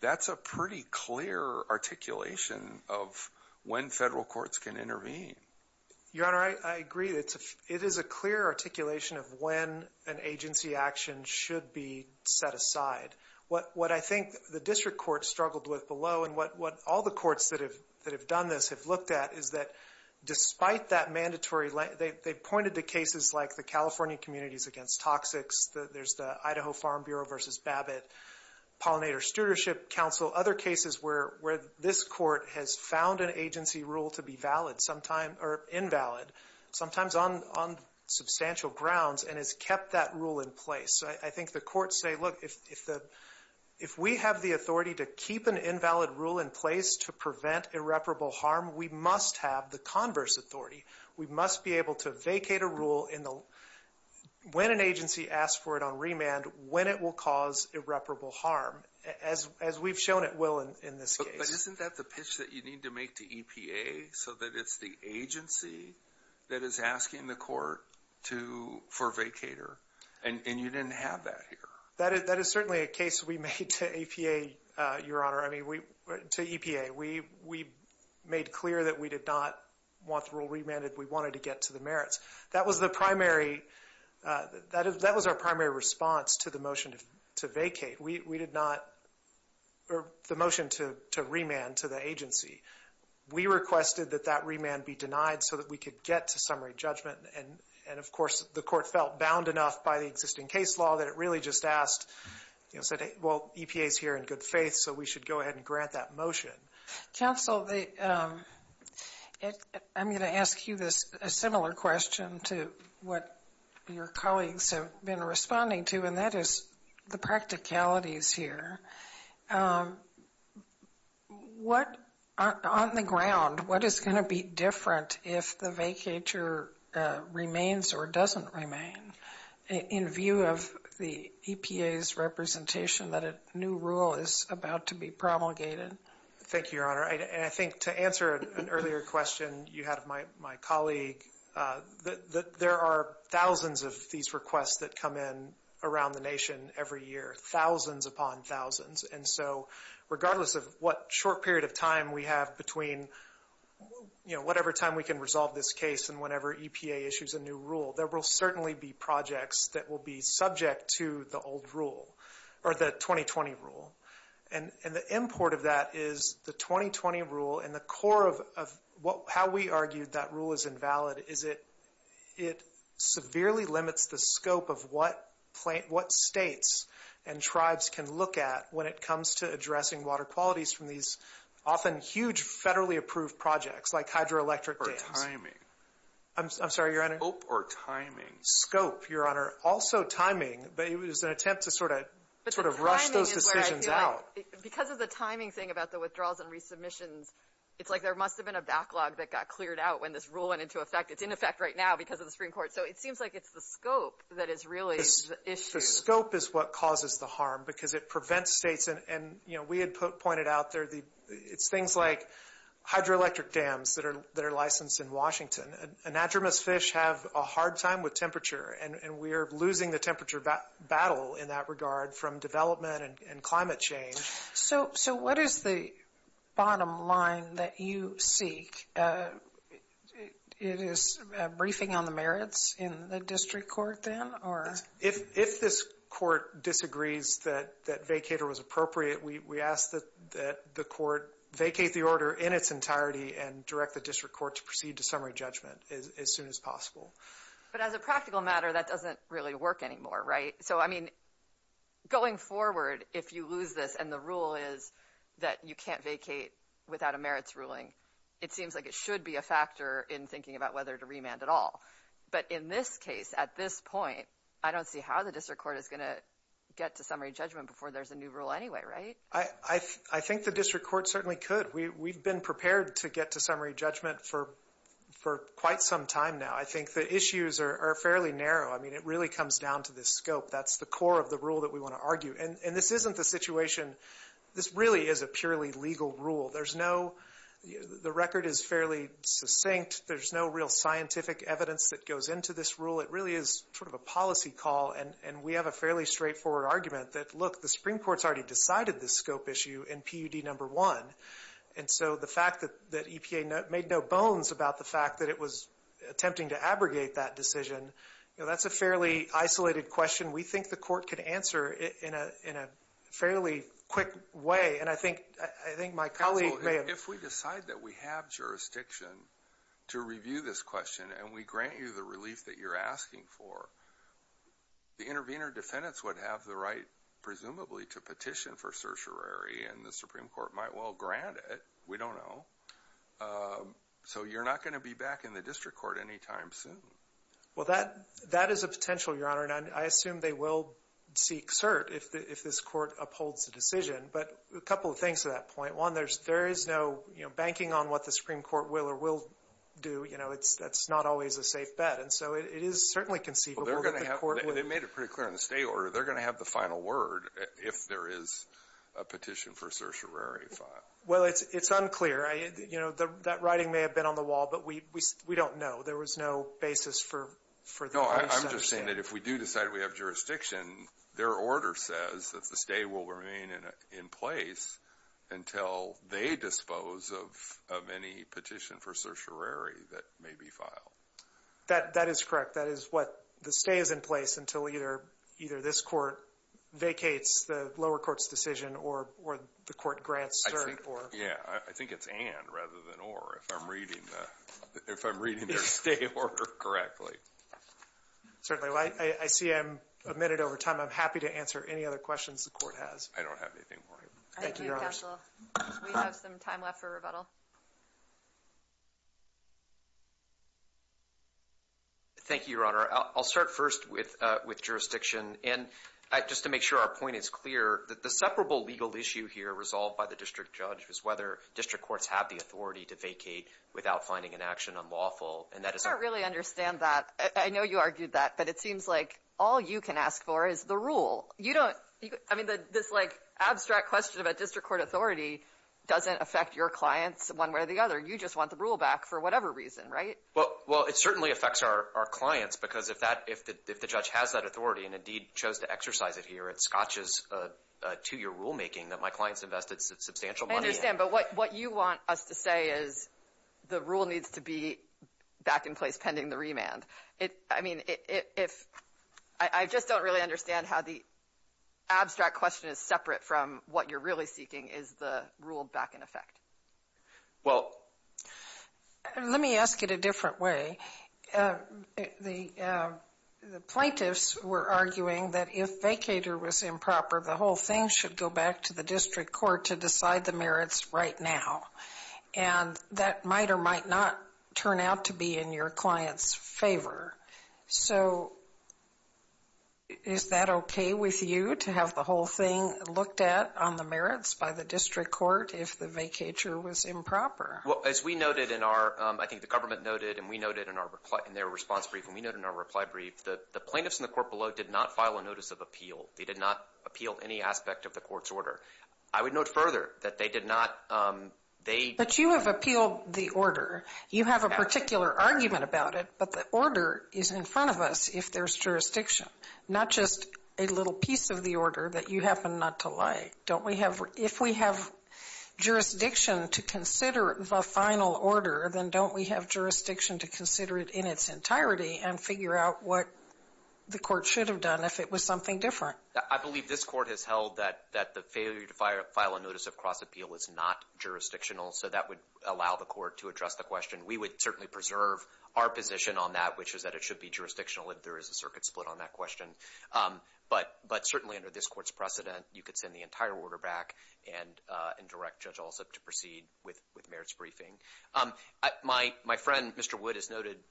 that's a pretty clear articulation of when federal courts can intervene. Your Honor, I- I agree. It is a clear articulation of when an agency action should be set aside. What- what I think the district courts struggled with below, and what- what all the courts that have- that have done this have looked at, is that despite that mandatory- they pointed to cases like the California Communities Against Toxics, there's the Idaho Farm Bureau versus Babbitt Pollinator Stewardship Council, other cases where- where this court has found an on- on substantial grounds and has kept that rule in place. So I- I think the courts say, look, if- if the- if we have the authority to keep an invalid rule in place to prevent irreparable harm, we must have the converse authority. We must be able to vacate a rule in the- when an agency asks for it on remand, when it will cause irreparable harm, as- as we've shown it will in- in this case. But isn't that the pitch that you need to make to EPA, so that it's the agency that is asking the court to- for vacater, and- and you didn't have that here. That is- that is certainly a case we made to EPA, Your Honor. I mean, we- to EPA. We- we made clear that we did not want the rule remanded. We wanted to get to the merits. That was the primary- that is- that was our primary response to the motion to vacate. We- we did not- or the motion to- to remand to the agency. We requested that that remand be denied, so that we could get to summary judgment. And- and of course, the court felt bound enough by the existing case law that it really just asked, you know, said, hey, well, EPA's here in good faith, so we should go ahead and grant that motion. Counsel, the- I'm going to ask you this- a similar question to what your colleagues have been responding to, and that is the practicalities here. Um, what- on- on the ground, what is going to be different if the vacater remains or doesn't remain in view of the EPA's representation that a new rule is about to be promulgated? Thank you, Your Honor. And I think to answer an earlier question you had of my- my colleague, uh, the- the- there are thousands of these requests that come in around the nation every year, thousands upon thousands. And so, regardless of what short period of time we have between, you know, whatever time we can resolve this case and whenever EPA issues a new rule, there will certainly be projects that will be subject to the old rule, or the 2020 rule. And- and the import of that is the 2020 rule and the core of- of what- how we argued that is it- it severely limits the scope of what plant- what states and tribes can look at when it comes to addressing water qualities from these often huge federally approved projects like hydroelectric dams. Or timing. I'm- I'm sorry, Your Honor. Scope or timing. Scope, Your Honor. Also timing, but it was an attempt to sort of- sort of rush those decisions out. Because of the timing thing about the withdrawals and resubmissions, it's like there must have been a backlog that got cleared out when this rule went into effect. It's in effect right now because of the Supreme Court. So, it seems like it's the scope that is really the issue. The scope is what causes the harm. Because it prevents states and- and, you know, we had put- pointed out there the- it's things like hydroelectric dams that are- that are licensed in Washington. Anadromous fish have a hard time with temperature. And- and we are losing the temperature bat- battle in that regard from development and climate change. So- so what is the bottom line that you seek? It is a briefing on the merits in the district court then? Or- If- if this court disagrees that- that vacator was appropriate, we- we ask that- that the court vacate the order in its entirety and direct the district court to proceed to summary judgment as- as soon as possible. But as a practical matter, that doesn't really work anymore, right? So, I mean, going forward, if you lose this and the rule is that you can't vacate without a merits ruling, it seems like it should be a factor in thinking about whether to remand at all. But in this case, at this point, I don't see how the district court is going to get to summary judgment before there's a new rule anyway, right? I- I- I think the district court certainly could. We've been prepared to get to summary judgment for- for quite some time now. I think the issues are- are fairly narrow. I mean, it really comes down to the scope. That's the core of the rule that we want to argue. And- and this isn't the situation- this really is a purely legal rule. There's no- the record is fairly succinct. There's no real scientific evidence that goes into this rule. It really is sort of a policy call. And- and we have a fairly straightforward argument that, look, the Supreme Court's already decided this scope issue in PUD number one. And so the fact that- that EPA made no bones about the fact that it was attempting to abrogate that decision, you know, that's a fairly isolated question we think the court could answer in a- in a fairly quick way. And I think- I think my colleague may have- If we decide that we have jurisdiction to review this question and we grant you the relief that you're asking for, the intervener defendants would have the right, presumably, to petition for certiorari. And the Supreme Court might well grant it. We don't know. So you're not going to be back in the district court any time soon. Well, that- that is a potential, Your Honor. And I assume they will seek cert if- if this court upholds the decision. But a couple of things to that point. One, there's- there is no, you know, banking on what the Supreme Court will or will do. You know, it's- that's not always a safe bet. And so it is certainly conceivable that the court would- They made it pretty clear in the state order. They're going to have the final word if there is a petition for certiorari. Well, it's unclear. You know, that writing may have been on the wall, but we- we don't know. There was no basis for- for- No, I'm just saying that if we do decide we have jurisdiction, their order says that the stay will remain in- in place until they dispose of- of any petition for certiorari that may be filed. That- that is correct. That is what- the stay is in place until either- either this court vacates the lower court's decision or- or the court grants cert or- Yeah, I think it's and rather than or if I'm reading the- if I'm reading their state order correctly. Certainly. I see I'm a minute over time. I'm happy to answer any other questions the court has. I don't have anything more. Thank you, Your Honor. Thank you, Counsel. We have some time left for rebuttal. Thank you, Your Honor. I'll start first with- with jurisdiction. And I- just to make sure our point is clear, that the separable legal issue here resolved by the district judge was whether district courts have the authority to vacate without finding an action unlawful. And that is- I don't really understand that. I know you argued that, but it seems like all you can ask for is the rule. You don't- I mean, this like abstract question about district court authority doesn't affect your clients one way or the other. You just want the rule back for whatever reason, right? Well- well, it certainly affects our- our clients because if that- if the- if the judge has that authority and indeed chose to exercise it here, it scotches a two-year rulemaking that my clients invested substantial money in. I understand, but what- what you want us to say is the rule needs to be back in place pending the remand. It- I mean, if- I- I just don't really understand how the abstract question is separate from what you're really seeking is the rule back in effect. Well- Let me ask it a different way. The- the plaintiffs were arguing that if vacator was improper, the whole thing should go back to the district court to decide the merits right now, and that might or might not turn out to be in your client's favor. So, is that okay with you to have the whole thing looked at on the merits by the district court if the vacator was improper? Well, as we noted in our- I think the government noted and we noted in our- in their response brief and we noted in our reply brief, the- the plaintiffs in the court below did not file a notice of appeal. They did not appeal any aspect of the court's order. I would note further that they did not- they- But you have appealed the order. You have a particular argument about it, but the order is in front of us if there's jurisdiction, not just a little piece of the order that you happen not to like. Don't we have- if we have jurisdiction to consider the final order, then don't we have jurisdiction to consider it in its entirety and figure out what the court should have done if it was something different? I believe this court has held that- that the failure to fire- file a notice of cross-appeal is not jurisdictional, so that would allow the court to address the question. We would certainly preserve our position on that, which is that it should be jurisdictional if there is a circuit split on that question. But- but certainly under this court's precedent, you could send the entire order back and- and direct Judge Alsup to proceed with- with merits briefing. My- my friend, Mr. Wood, has noted-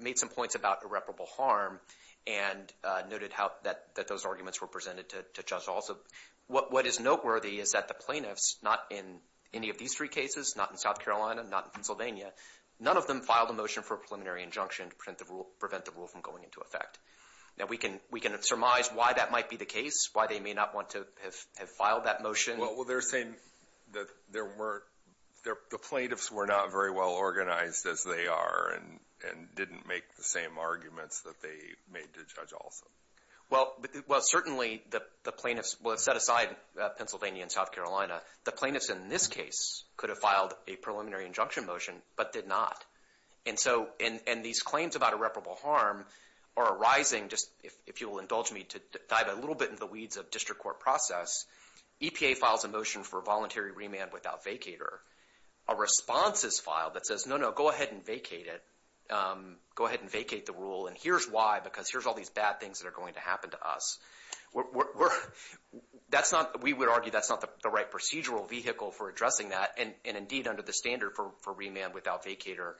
made some points about irreparable harm, and noted how that- that those arguments were presented to- to Judge Alsup. What- what is noteworthy is that the plaintiffs, not in any of these three cases, not in South Carolina, not in Pennsylvania, none of them filed a motion for a preliminary injunction to prevent the rule- prevent the rule from going into effect. Now, we can- we can surmise why that might be the case, why they may not want to have- have filed that motion. Well, they're saying that there weren't- the plaintiffs were not very well organized as they are, and- and didn't make the same arguments that they made to Judge Alsup. Well- well, certainly the- the plaintiffs- well, set aside Pennsylvania and South Carolina, the plaintiffs in this case could have filed a preliminary injunction motion, but did not. And so- and- and these claims about irreparable harm are arising, just if- if you'll indulge me to dive a little bit into the weeds of district court process, EPA files a motion for voluntary remand without vacator. A response is filed that says, no, no, go ahead and vacate it. Go ahead and vacate the rule, and here's why, because here's all these bad things that are going to happen to us. We're- we're- that's not- we would argue that's not the right procedural vehicle for addressing that, and- and indeed under the standard for- for remand without vacator,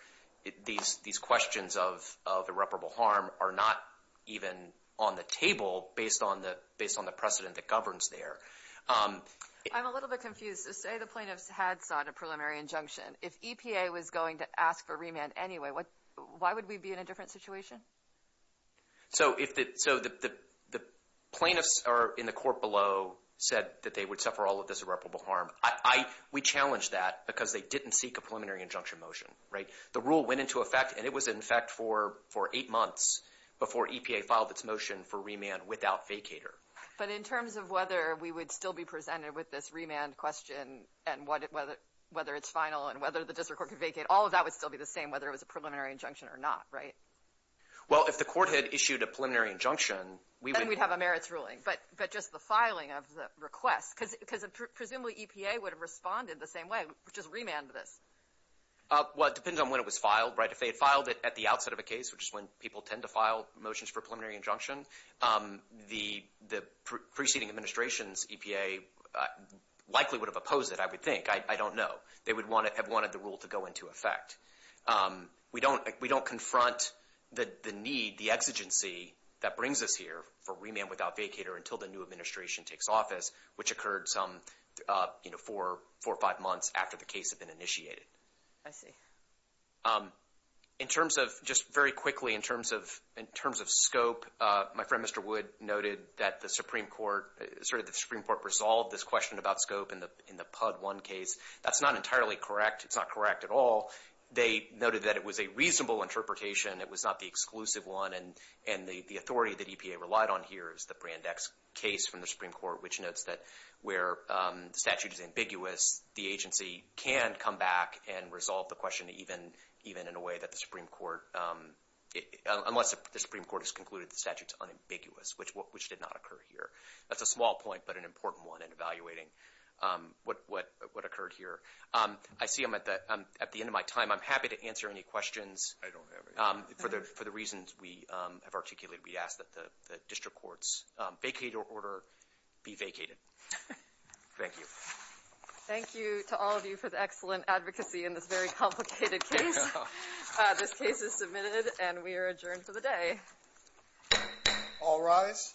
these- these questions of- of irreparable harm are not even on the table based on the- based on the precedent that governs there. I'm a little bit confused. Say the plaintiffs had sought a preliminary injunction. If EPA was going to ask for remand anyway, what- why would we be in a different situation? So if the- so the- the- the plaintiffs are in the court below said that they would suffer all of this irreparable harm. I- I- we challenged that because they didn't seek a preliminary injunction motion, right? The rule went into effect, and it was in effect for- for eight months before EPA filed its motion for remand without vacator. But in terms of whether we would still be presented with this remand question, and what- whether- whether it's final, and whether the district court could vacate, all of that would still be the same, whether it was a preliminary injunction or not, right? Well, if the court had issued a preliminary injunction, we would- Then we'd have a merits ruling. But- but just the filing of the request, because- because presumably EPA would have responded the same way, which is remand this. Well, it depends on when it was filed, right? If they had filed it at the outset of a case, which is when people tend to file motions for preliminary injunction, the- the preceding administration's EPA likely would have opposed it, I would think. I- I don't know. They would want to- have wanted the rule to go into effect. We don't- we don't confront the- the need, the exigency that brings us here for remand without vacator until the new administration takes office, which occurred some, you know, four- four or five months after the case had been initiated. I see. Um, in terms of- just very quickly, in terms of- in terms of scope, uh, my friend, Mr. Wood, noted that the Supreme Court- sort of the Supreme Court resolved this question about scope in the- in the PUD 1 case. That's not entirely correct. It's not correct at all. They noted that it was a reasonable interpretation. It was not the exclusive one. And- and the- the authority that EPA relied on here is the Brand X case from the Supreme Court, which notes that where, um, the statute is ambiguous, the agency can come back and even- even in a way that the Supreme Court, um, unless the Supreme Court has concluded the statute's unambiguous, which- which did not occur here. That's a small point, but an important one in evaluating, um, what- what- what occurred here. Um, I see I'm at the- at the end of my time. I'm happy to answer any questions. I don't have any. Um, for the- for the reasons we, um, have articulated, we ask that the- the district court's, um, vacator order be vacated. Thank you. Thank you to all of you for the excellent advocacy in this very complicated case. Yeah. This case is submitted, and we are adjourned for the day. All rise.